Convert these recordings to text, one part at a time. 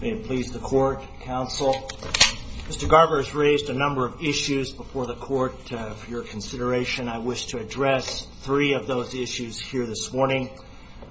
please the court counsel mr. Garber has raised a number of issues before the court for your consideration I wish to address three of those issues here this morning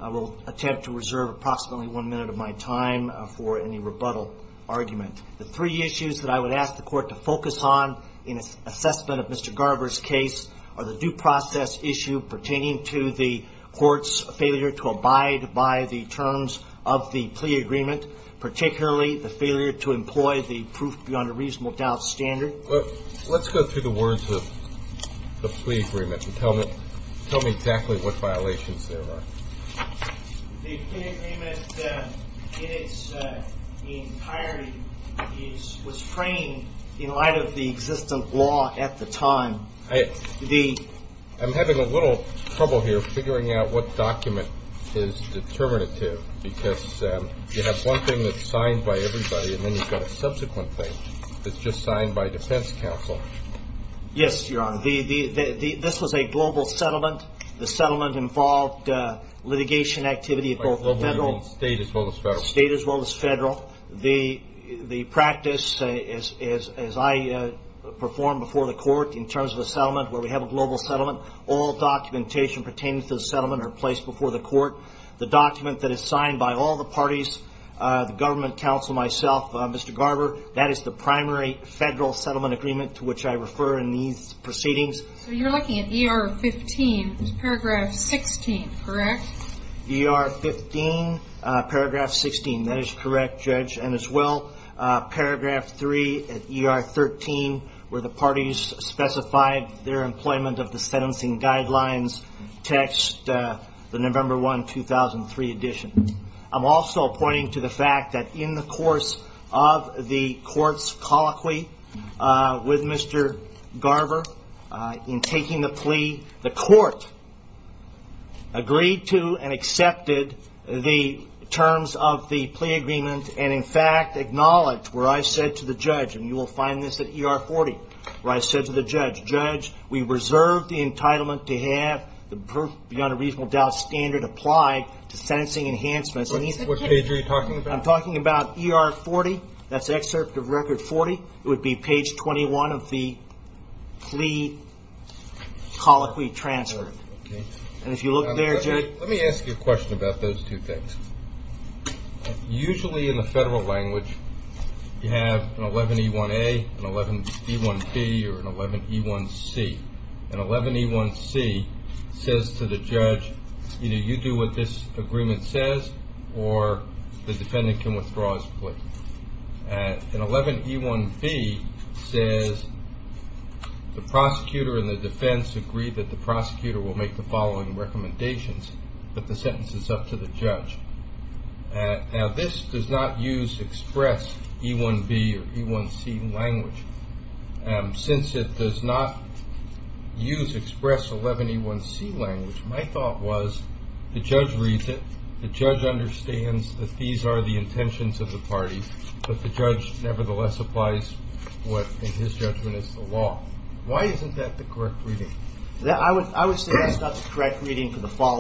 I will attempt to reserve approximately one minute of my time for any rebuttal argument the three issues that I would ask the court to focus on in assessment of mr. Garber's case are the due process issue pertaining to the court's failure to abide by the terms of the plea agreement particularly the failure to employ the proof beyond a reasonable doubt standard but let's go through the words of the plea agreement to tell me tell me exactly what violations there are was framed in light of the existent law at the time I the I'm having a little trouble here figuring out what document is determinative because you have one thing that's signed by everybody and then you've got a subsequent thing that's just signed by defense counsel yes your honor the the this was a global settlement the settlement involved litigation activity at both federal state as well as federal state as well as federal the the practice is as I perform before the court in terms of a settlement where we have a global settlement all documentation pertaining to the settlement are placed before the court the document that is signed by all the parties the government counsel myself mr. Garber that is the primary federal settlement agreement to which I refer in these proceedings you're looking at er 15 paragraph 16 correct er 15 paragraph 16 that is correct judge and as well paragraph 3 at er 13 where the parties specified their employment of the sentencing guidelines text the November 1 2003 edition I'm also pointing to the fact that in the course of the courts colloquy with mr. Garber in taking the plea the court agreed to and accepted the terms of the plea agreement and in fact acknowledged where I said to the judge and you will find this at er 40 where I said to the judge judge we reserve the entitlement to have the beyond a reasonable doubt standard applied to sentencing enhancements I'm talking about er 40 that's excerpt of record 40 it would be page 21 of the plea colloquy transfer and if you look there let me ask you a question about those two things usually in the federal language you have an 11e1a an 11e1b or an 11e1c an 11e1c says to the judge either you do what this agreement says or the defendant can withdraw his plea an 11e1b says the prosecutor and the defense agree that the prosecutor will make the following recommendations but the sentence is up to the judge now this does not use express e1b or e1c language and since it does not use express 11e1c language my thought was the judge reads it the judge understands that these are the intentions of the party but the judge nevertheless applies what in his judgment is the law why isn't that the correct reading that I would I would say that's not the correct reading for the court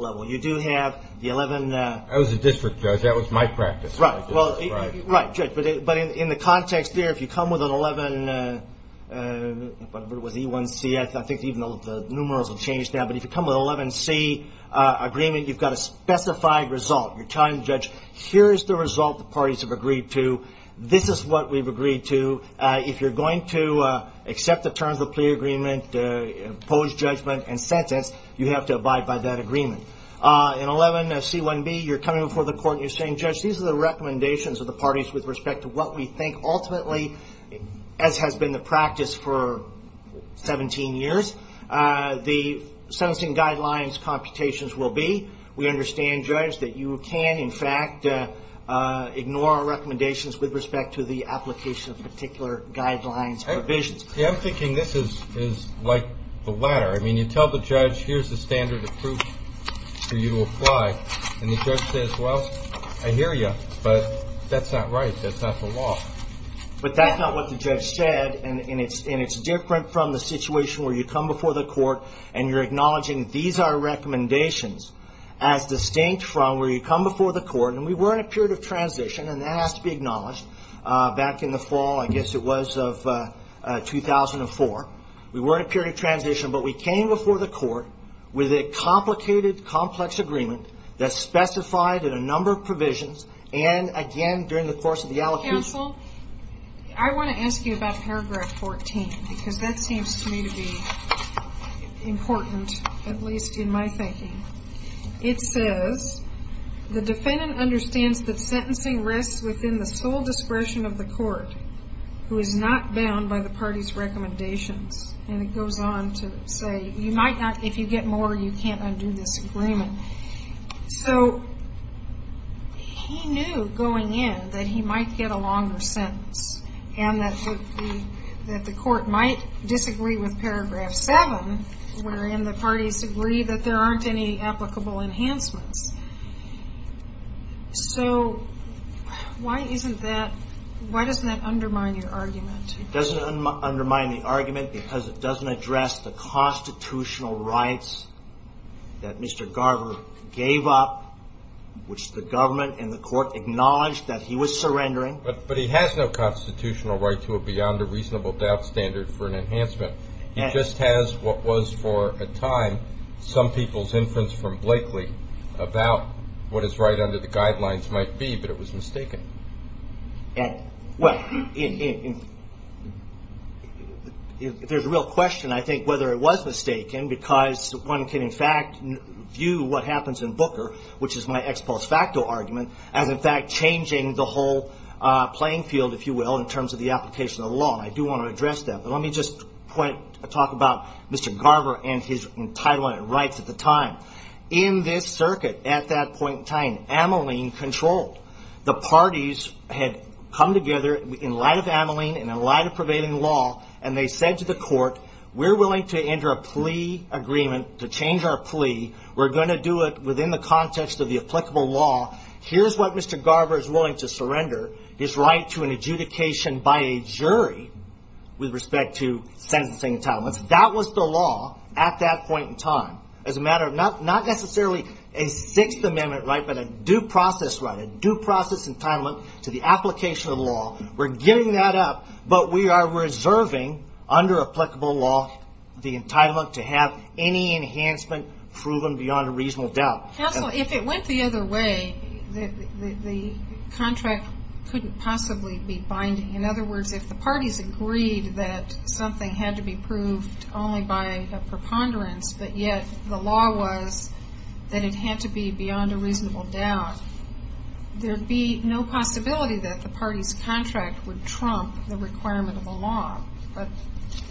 level you do have the 11 that was a district judge that was my practice right well right but in the context there if you come with an 11 but it was e1c I think even though the numerals will change now but if you come with 11 C agreement you've got a specified result you're telling the judge here's the result the parties have agreed to this is what we've agreed to if you're going to accept the terms of plea agreement opposed judgment and sentence you have to abide by that agreement in 11 c1b you're coming before the court you're saying judge these are the recommendations of the parties with respect to what we think ultimately as has been the practice for 17 years the sentencing guidelines computations will be we understand judge that you can in fact ignore our recommendations with respect to the application of particular guidelines and visions yeah I'm thinking this is is like the latter I mean you tell the judge here's the standard of proof so you apply and the judge says well I hear you but that's not right that's not the law but that's not what the judge said and it's in it's different from the situation where you come before the court and you're acknowledging these are recommendations as distinct from where you come before the court and we were in a period of transition and that has to be acknowledged back in the fall I guess it was of 2004 we were in a period of transition but we came before the court with a complicated complex agreement that specified in a number of provisions and again during the course of the allocation I want to ask you about paragraph 14 because that seems to me to be important at least in my thinking it says the defendant understands that sentencing risks within the sole discretion of the court who is not bound by the party's recommendations and it goes on to say you might not if you get more you can't undo this agreement so he knew going in that he might get a longer sentence and that the court might disagree with paragraph 7 wherein the parties agree that there aren't any why doesn't that undermine your argument it doesn't undermine the argument because it doesn't address the constitutional rights that mr. Garver gave up which the government and the court acknowledged that he was surrendering but but he has no constitutional right to a beyond a reasonable doubt standard for an enhancement he just has what was for a time some people's inference from Blakely about what is right under the well if there's a real question I think whether it was mistaken because one can in fact view what happens in Booker which is my ex post facto argument as in fact changing the whole playing field if you will in terms of the application of law I do want to address that but let me just point talk about mr. Garver and his entitlement rights at the time in this circuit at that point time Ameline control the parties had come together in light of Ameline and a lot of prevailing law and they said to the court we're willing to enter a plea agreement to change our plea we're going to do it within the context of the applicable law here's what mr. Garber is willing to surrender his right to an adjudication by a jury with respect to sentencing that was the law at that point in time as a matter of not not necessarily a sixth amendment right but a due process right a due process entitlement to the application of law we're giving that up but we are reserving under applicable law the entitlement to have any enhancement proven beyond a reasonable doubt if it went the other way the contract couldn't possibly be binding in other words if the parties agreed that something had to be proved only by a preponderance but the law was that it had to be beyond a reasonable doubt there'd be no possibility that the party's contract would trump the requirement of the law but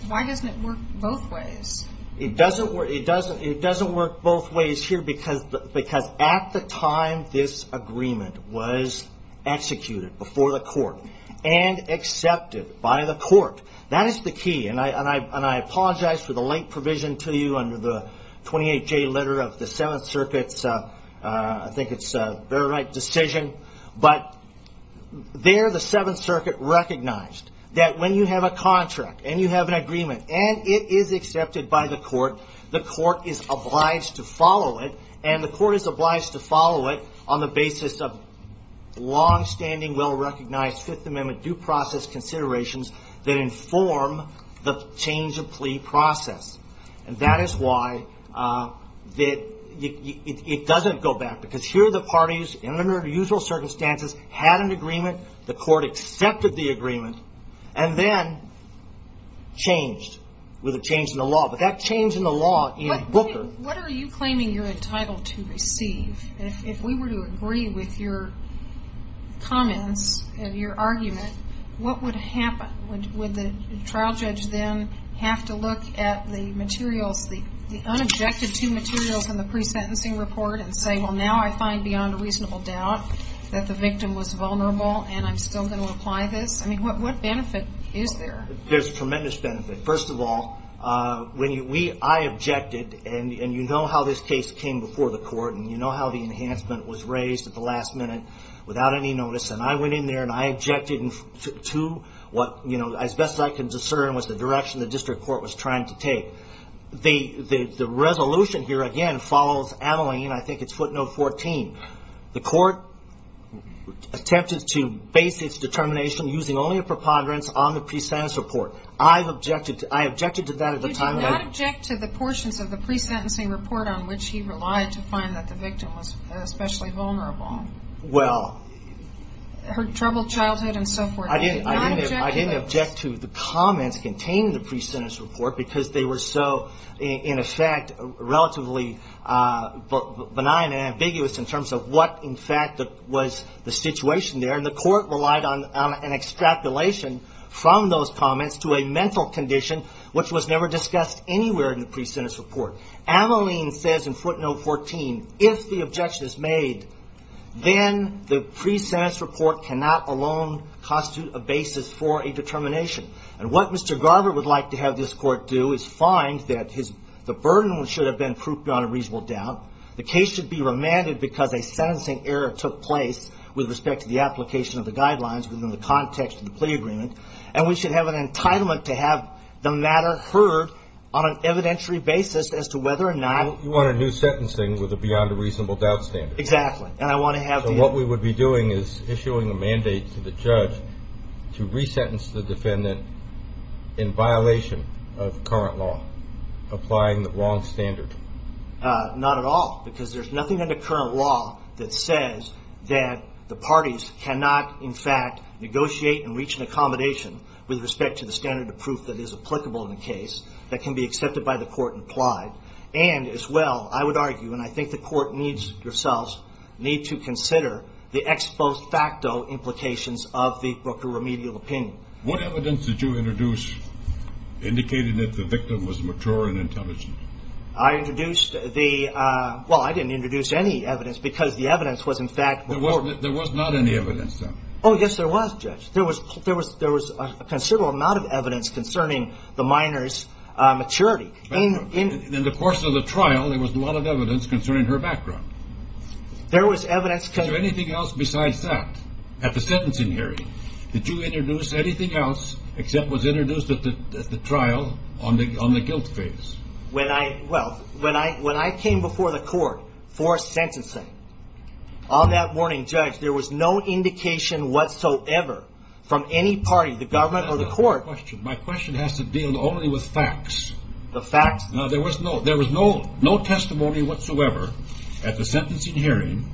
why doesn't it work both ways it doesn't work it doesn't it doesn't work both ways here because because at the time this agreement was executed before the court and accepted by the court that is the key and I and I and I apologize for the late provision to you under the 28 J letter of the Seventh Circuit's I think it's a very right decision but there the Seventh Circuit recognized that when you have a contract and you have an agreement and it is accepted by the court the court is obliged to follow it and the court is obliged to follow it on the basis of long-standing well-recognized Fifth Amendment due process and that is why that it doesn't go back because here the parties in their usual circumstances had an agreement the court accepted the agreement and then changed with a change in the law but that change in the law what are you claiming you're entitled to receive if we were to agree with your comments and your argument what would happen with the trial judge then have to look at the materials the the unobjective to materials in the pre-sentencing report and say well now I find beyond a reasonable doubt that the victim was vulnerable and I'm still going to apply this I mean what benefit is there there's tremendous benefit first of all when you we I objected and and you know how this case came before the court and you know how the enhancement was raised at the last minute without any notice and I went in there and I objected to what you know as best I can discern was the direction the court was trying to take the the resolution here again follows Ameline I think it's footnote 14 the court attempted to base its determination using only a preponderance on the pre-sentence report I've objected to I objected to that at the time I object to the portions of the pre-sentencing report on which he relied to find that the victim was especially vulnerable well her troubled childhood and so forth I didn't I didn't object to the comments contained the pre-sentence report because they were so in effect relatively but benign and ambiguous in terms of what in fact that was the situation there and the court relied on an extrapolation from those comments to a mental condition which was never discussed anywhere in the pre-sentence report Ameline says in footnote 14 if the objection is made then the pre- sentence report cannot alone constitute a basis for a determination and what Mr. Garber would like to have this court do is find that his the burden should have been proved on a reasonable doubt the case should be remanded because a sentencing error took place with respect to the application of the guidelines within the context of the plea agreement and we should have an entitlement to have the matter heard on an evidentiary basis as to whether or not you want a new sentencing with a beyond a reasonable doubt standard exactly and I want to have what we would be doing is issuing a mandate to the in violation of current law applying the wrong standard not at all because there's nothing in the current law that says that the parties cannot in fact negotiate and reach an accommodation with respect to the standard of proof that is applicable in the case that can be accepted by the court and applied and as well I would argue and I think the court needs yourselves need to consider the ex post facto implications of the broker remedial opinion what evidence did you introduce indicated that the victim was mature and intelligent I introduced the well I didn't introduce any evidence because the evidence was in fact there was not any evidence oh yes there was judge there was there was there was a considerable amount of evidence concerning the minors maturity in the course of the trial there was a lot of evidence concerning her background there was evidence to anything else besides that at the was introduced at the trial on the on the guilt phase when I well when I when I came before the court for sentencing on that morning judge there was no indication whatsoever from any party the government or the court question my question has to deal only with facts the facts now there was no there was no no testimony whatsoever at the sentencing hearing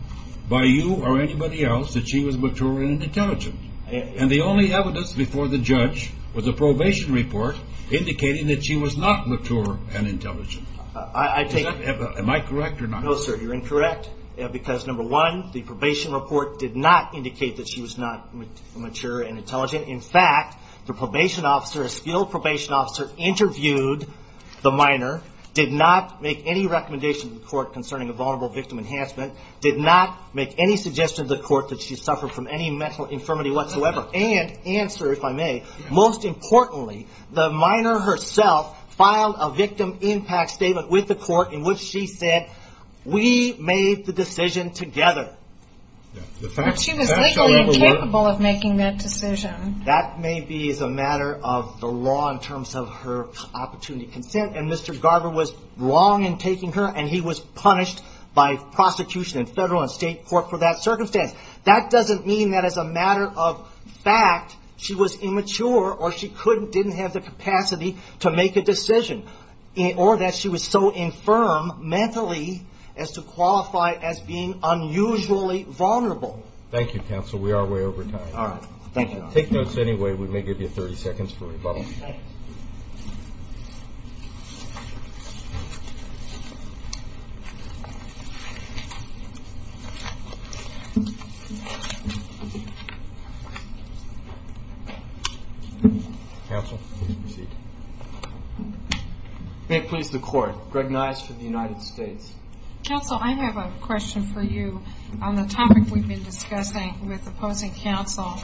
by you or anybody else that she was mature and intelligent and the only evidence before the judge was a probation report indicating that she was not mature and intelligent I think am I correct or not no sir you're incorrect because number one the probation report did not indicate that she was not mature and intelligent in fact the probation officer a skilled probation officer interviewed the minor did not make any recommendation the court concerning a vulnerable victim enhancement did not make any suggestion of the court that she suffered from any mental infirmity whatsoever and answer if I may most importantly the minor herself filed a victim impact statement with the court in which she said we made the decision together she was capable of making that decision that may be as a matter of the law in terms of her opportunity consent and mr. Garber was wrong in taking her and he was punished by prosecution in federal and state court for that circumstance that doesn't mean that as a matter of fact she was immature or she couldn't didn't have the capacity to make a decision or that she was so infirm mentally as to qualify as being unusually vulnerable thank you counsel we are way over time all right thank you take notes anyway we may give you 30 may please the court recognized for the United States counsel I have a question for you on the topic we've been discussing with opposing counsel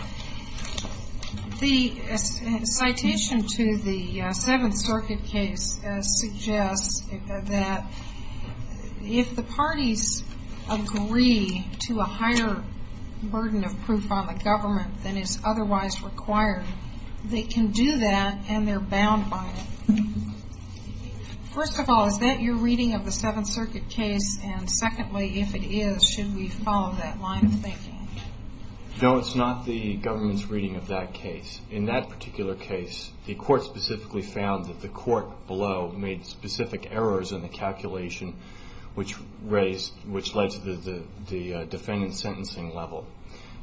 the if the parties agree to a higher burden of proof on the government than is otherwise required they can do that and they're bound by it first of all is that your reading of the Seventh Circuit case and secondly if it is should we follow that line of thinking no it's not the government's reading of that case in that particular case the court specifically found that the court below made specific errors in the calculation which raised which led to the defendant sentencing level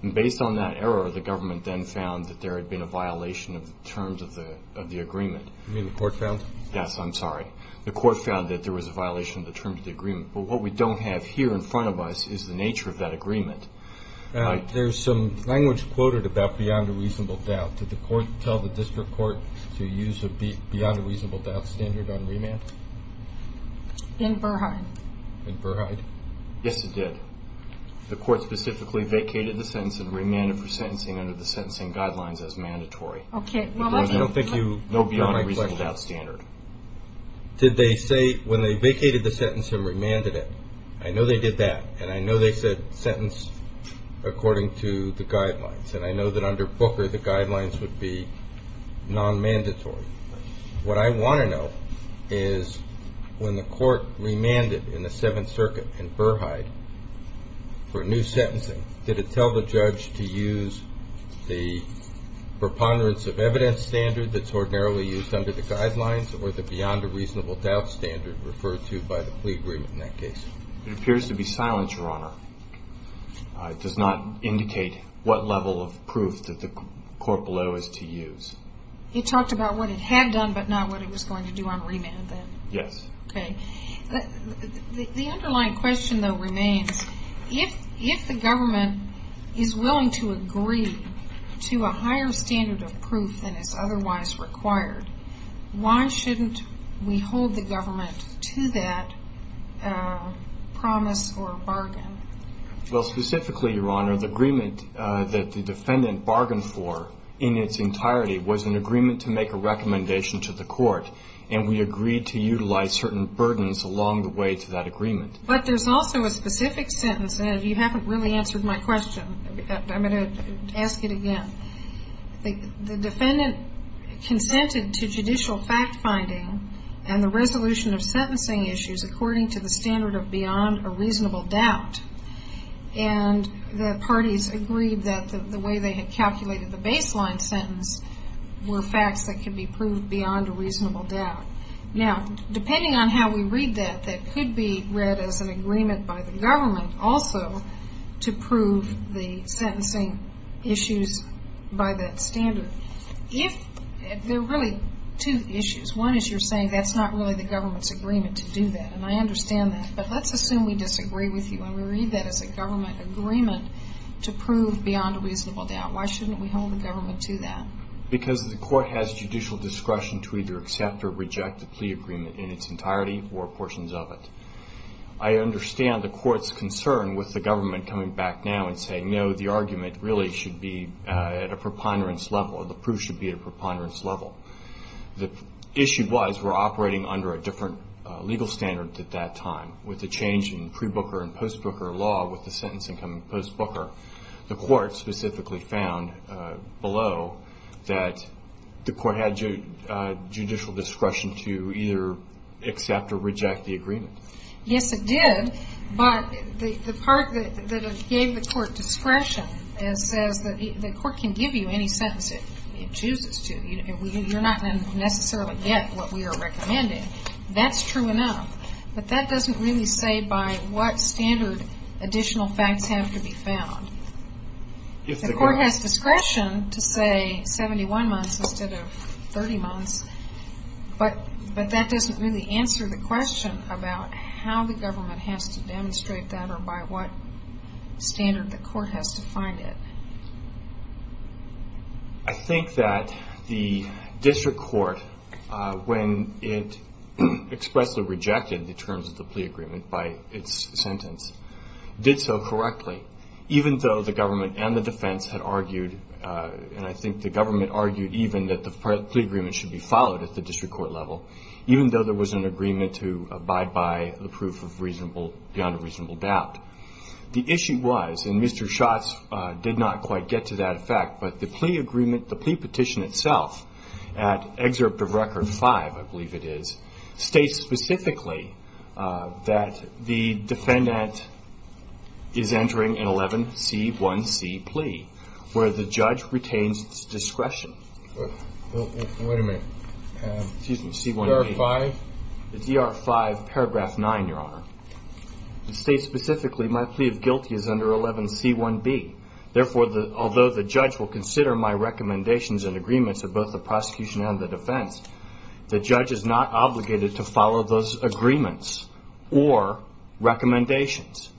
and based on that error the government then found that there had been a violation of the terms of the of the agreement the court found yes I'm sorry the court found that there was a violation of the terms of the agreement but what we don't have here in front of us is the nature of that agreement there's some language quoted about beyond a reasonable doubt to the court the court specifically vacated the sentence and remanded for sentencing under the sentencing guidelines as mandatory did they say when they vacated the sentence and remanded it I know they did that and I know they said sentence according to the guidelines and I know that under Booker the guidelines would be non-mandatory what I want to know is when the court remanded in the Seventh Circuit in Burrheide for a new sentencing did it tell the judge to use the preponderance of evidence standard that's ordinarily used under the guidelines or the beyond a reasonable doubt standard referred to by the plea it appears to be silent your honor it does not indicate what level of proof that the court below is to use it talked about what it had done but not what it was going to do on remand then yes okay the underlying question though remains if if the government is willing to agree to a higher standard of proof than is otherwise required why shouldn't we hold the government to that promise or bargain well specifically your honor the agreement that the defendant bargained for in its entirety was an agreement to make a recommendation to the court and we agreed to utilize certain burdens along the way to that agreement but there's also a specific sentence and you haven't really answered my question I'm defendant consented to judicial fact-finding and the resolution of sentencing issues according to the standard of beyond a reasonable doubt and the parties agreed that the way they had calculated the baseline sentence were facts that can be proved beyond a reasonable doubt now depending on how we read that that could be read as an agreement by the government also to prove the sentencing issues by that standard if they're really two issues one is you're saying that's not really the government's agreement to do that and I understand that but let's assume we disagree with you and we read that as a government agreement to prove beyond a reasonable doubt why shouldn't we hold the government to that because the court has judicial discretion to either accept or reject the plea agreement in its entirety or portions of it I understand the court's concern with the government coming back now and saying no the argument really should be at a preponderance level the proof should be at a preponderance level the issue was we're operating under a different legal standard at that time with the change in pre-booker and post-booker law with the sentencing coming post-booker the court specifically found below that the court had judicial discretion to either accept or reject the agreement yes it did but the part that gave the court discretion as says that the court can give you any sentence it chooses to you're not going to necessarily get what we are recommending that's true enough but that doesn't really say by what standard additional facts have to be found if the court has discretion to say 71 months instead of 30 months but but that doesn't really answer the question about how the government has to demonstrate that or by what standard the court has to find it I think that the district court when it expressly rejected the terms of the plea agreement by its sentence did so correctly even though the government and the defense had argued and I think the government argued even that the plea agreement should be followed at the district court level even though there was an agreement to abide by the proof of reasonable beyond a reasonable doubt the issue was and mr. shots did not quite get to that effect but the plea agreement the plea petition itself at excerpt of record 5 I believe it is states specifically that the defendant is entering an 11 c1c plea where the judge retains discretion paragraph 9 your honor states specifically my plea of guilty is under 11 c1b therefore the although the judge will consider my recommendations and agreements of both the prosecution and the defense the judge is not obligated to follow those agreements or recommendations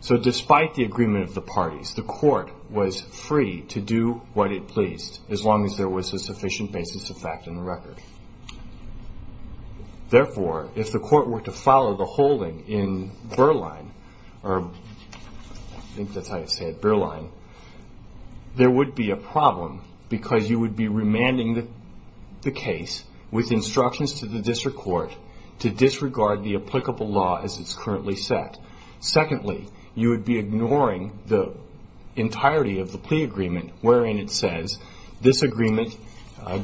so despite the agreement of the parties the court was free to do what it pleased as long as there was a sufficient basis of fact in the record therefore if the court were to follow the holding in Berlin or I think that's how you said Berlin there would be a problem because you would be remanding the case with instructions to the district court to disregard the applicable law as it's currently set secondly you would be ignoring the entirety of the plea agreement wherein it says this agreement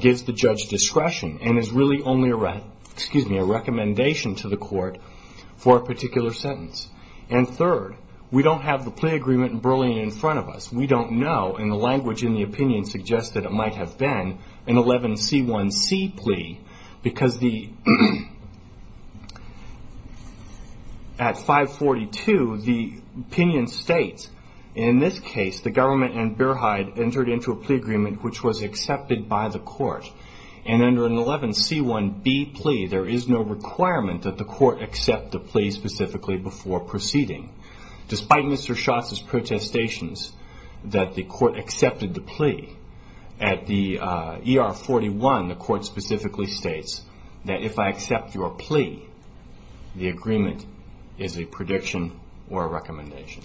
gives the judge discretion and is really only a recommendation to the court for a particular sentence and third we don't have the plea agreement in Berlin in front of us we don't know in the language in the opinion suggested it might have been an 11 c1c plea because the at 542 the opinion states in this case the government and Berheid entered into a plea agreement which was accepted by the court and under an 11 c1b plea there is no requirement that the court accept the plea specifically before proceeding despite Mr. Schatz's protestations that the court accepted the plea at the ER 41 the court specifically states that if I accept your plea the agreement is a prediction or a recommendation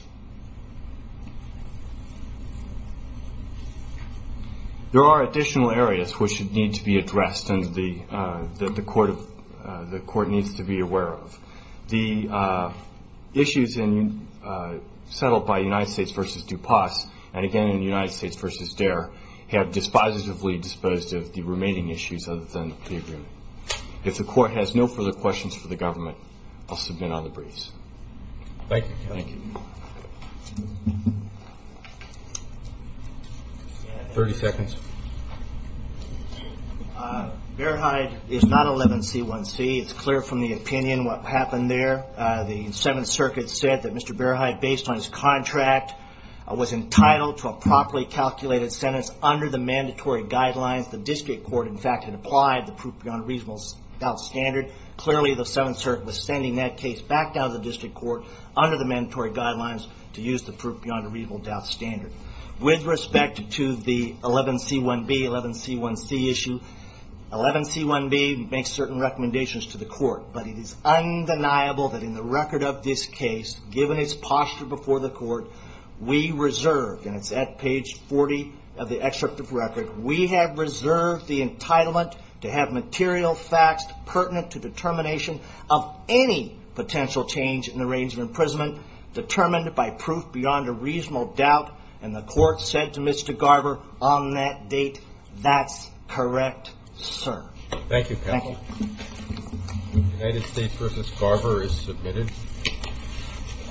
there are additional areas which should need to be addressed and the that the court of the court needs to be aware of the issues in settled by United States versus DuPasse and again in the United States versus DARE have dispositively disposed of the remaining issues other than the agreement if the court has no further questions for the government I'll submit on the briefs 30 seconds Berheid is not 11 c1c it's clear from the opinion what happened there the was entitled to a properly calculated sentence under the mandatory guidelines the district court in fact had applied the proof beyond reasonable doubt standard clearly the 7th Circuit was sending that case back down to the district court under the mandatory guidelines to use the proof beyond a reasonable doubt standard with respect to the 11 c1b 11 c1c issue 11 c1b makes certain recommendations to the court but it is undeniable that in the record of this case given his posture before the court we reserve and it's at page 40 of the excerpt of record we have reserved the entitlement to have material facts pertinent to determination of any potential change in the range of imprisonment determined by proof beyond a reasonable doubt and the court said to Mr. Garber on that date that's correct sir thank you United States versus Carver is submitted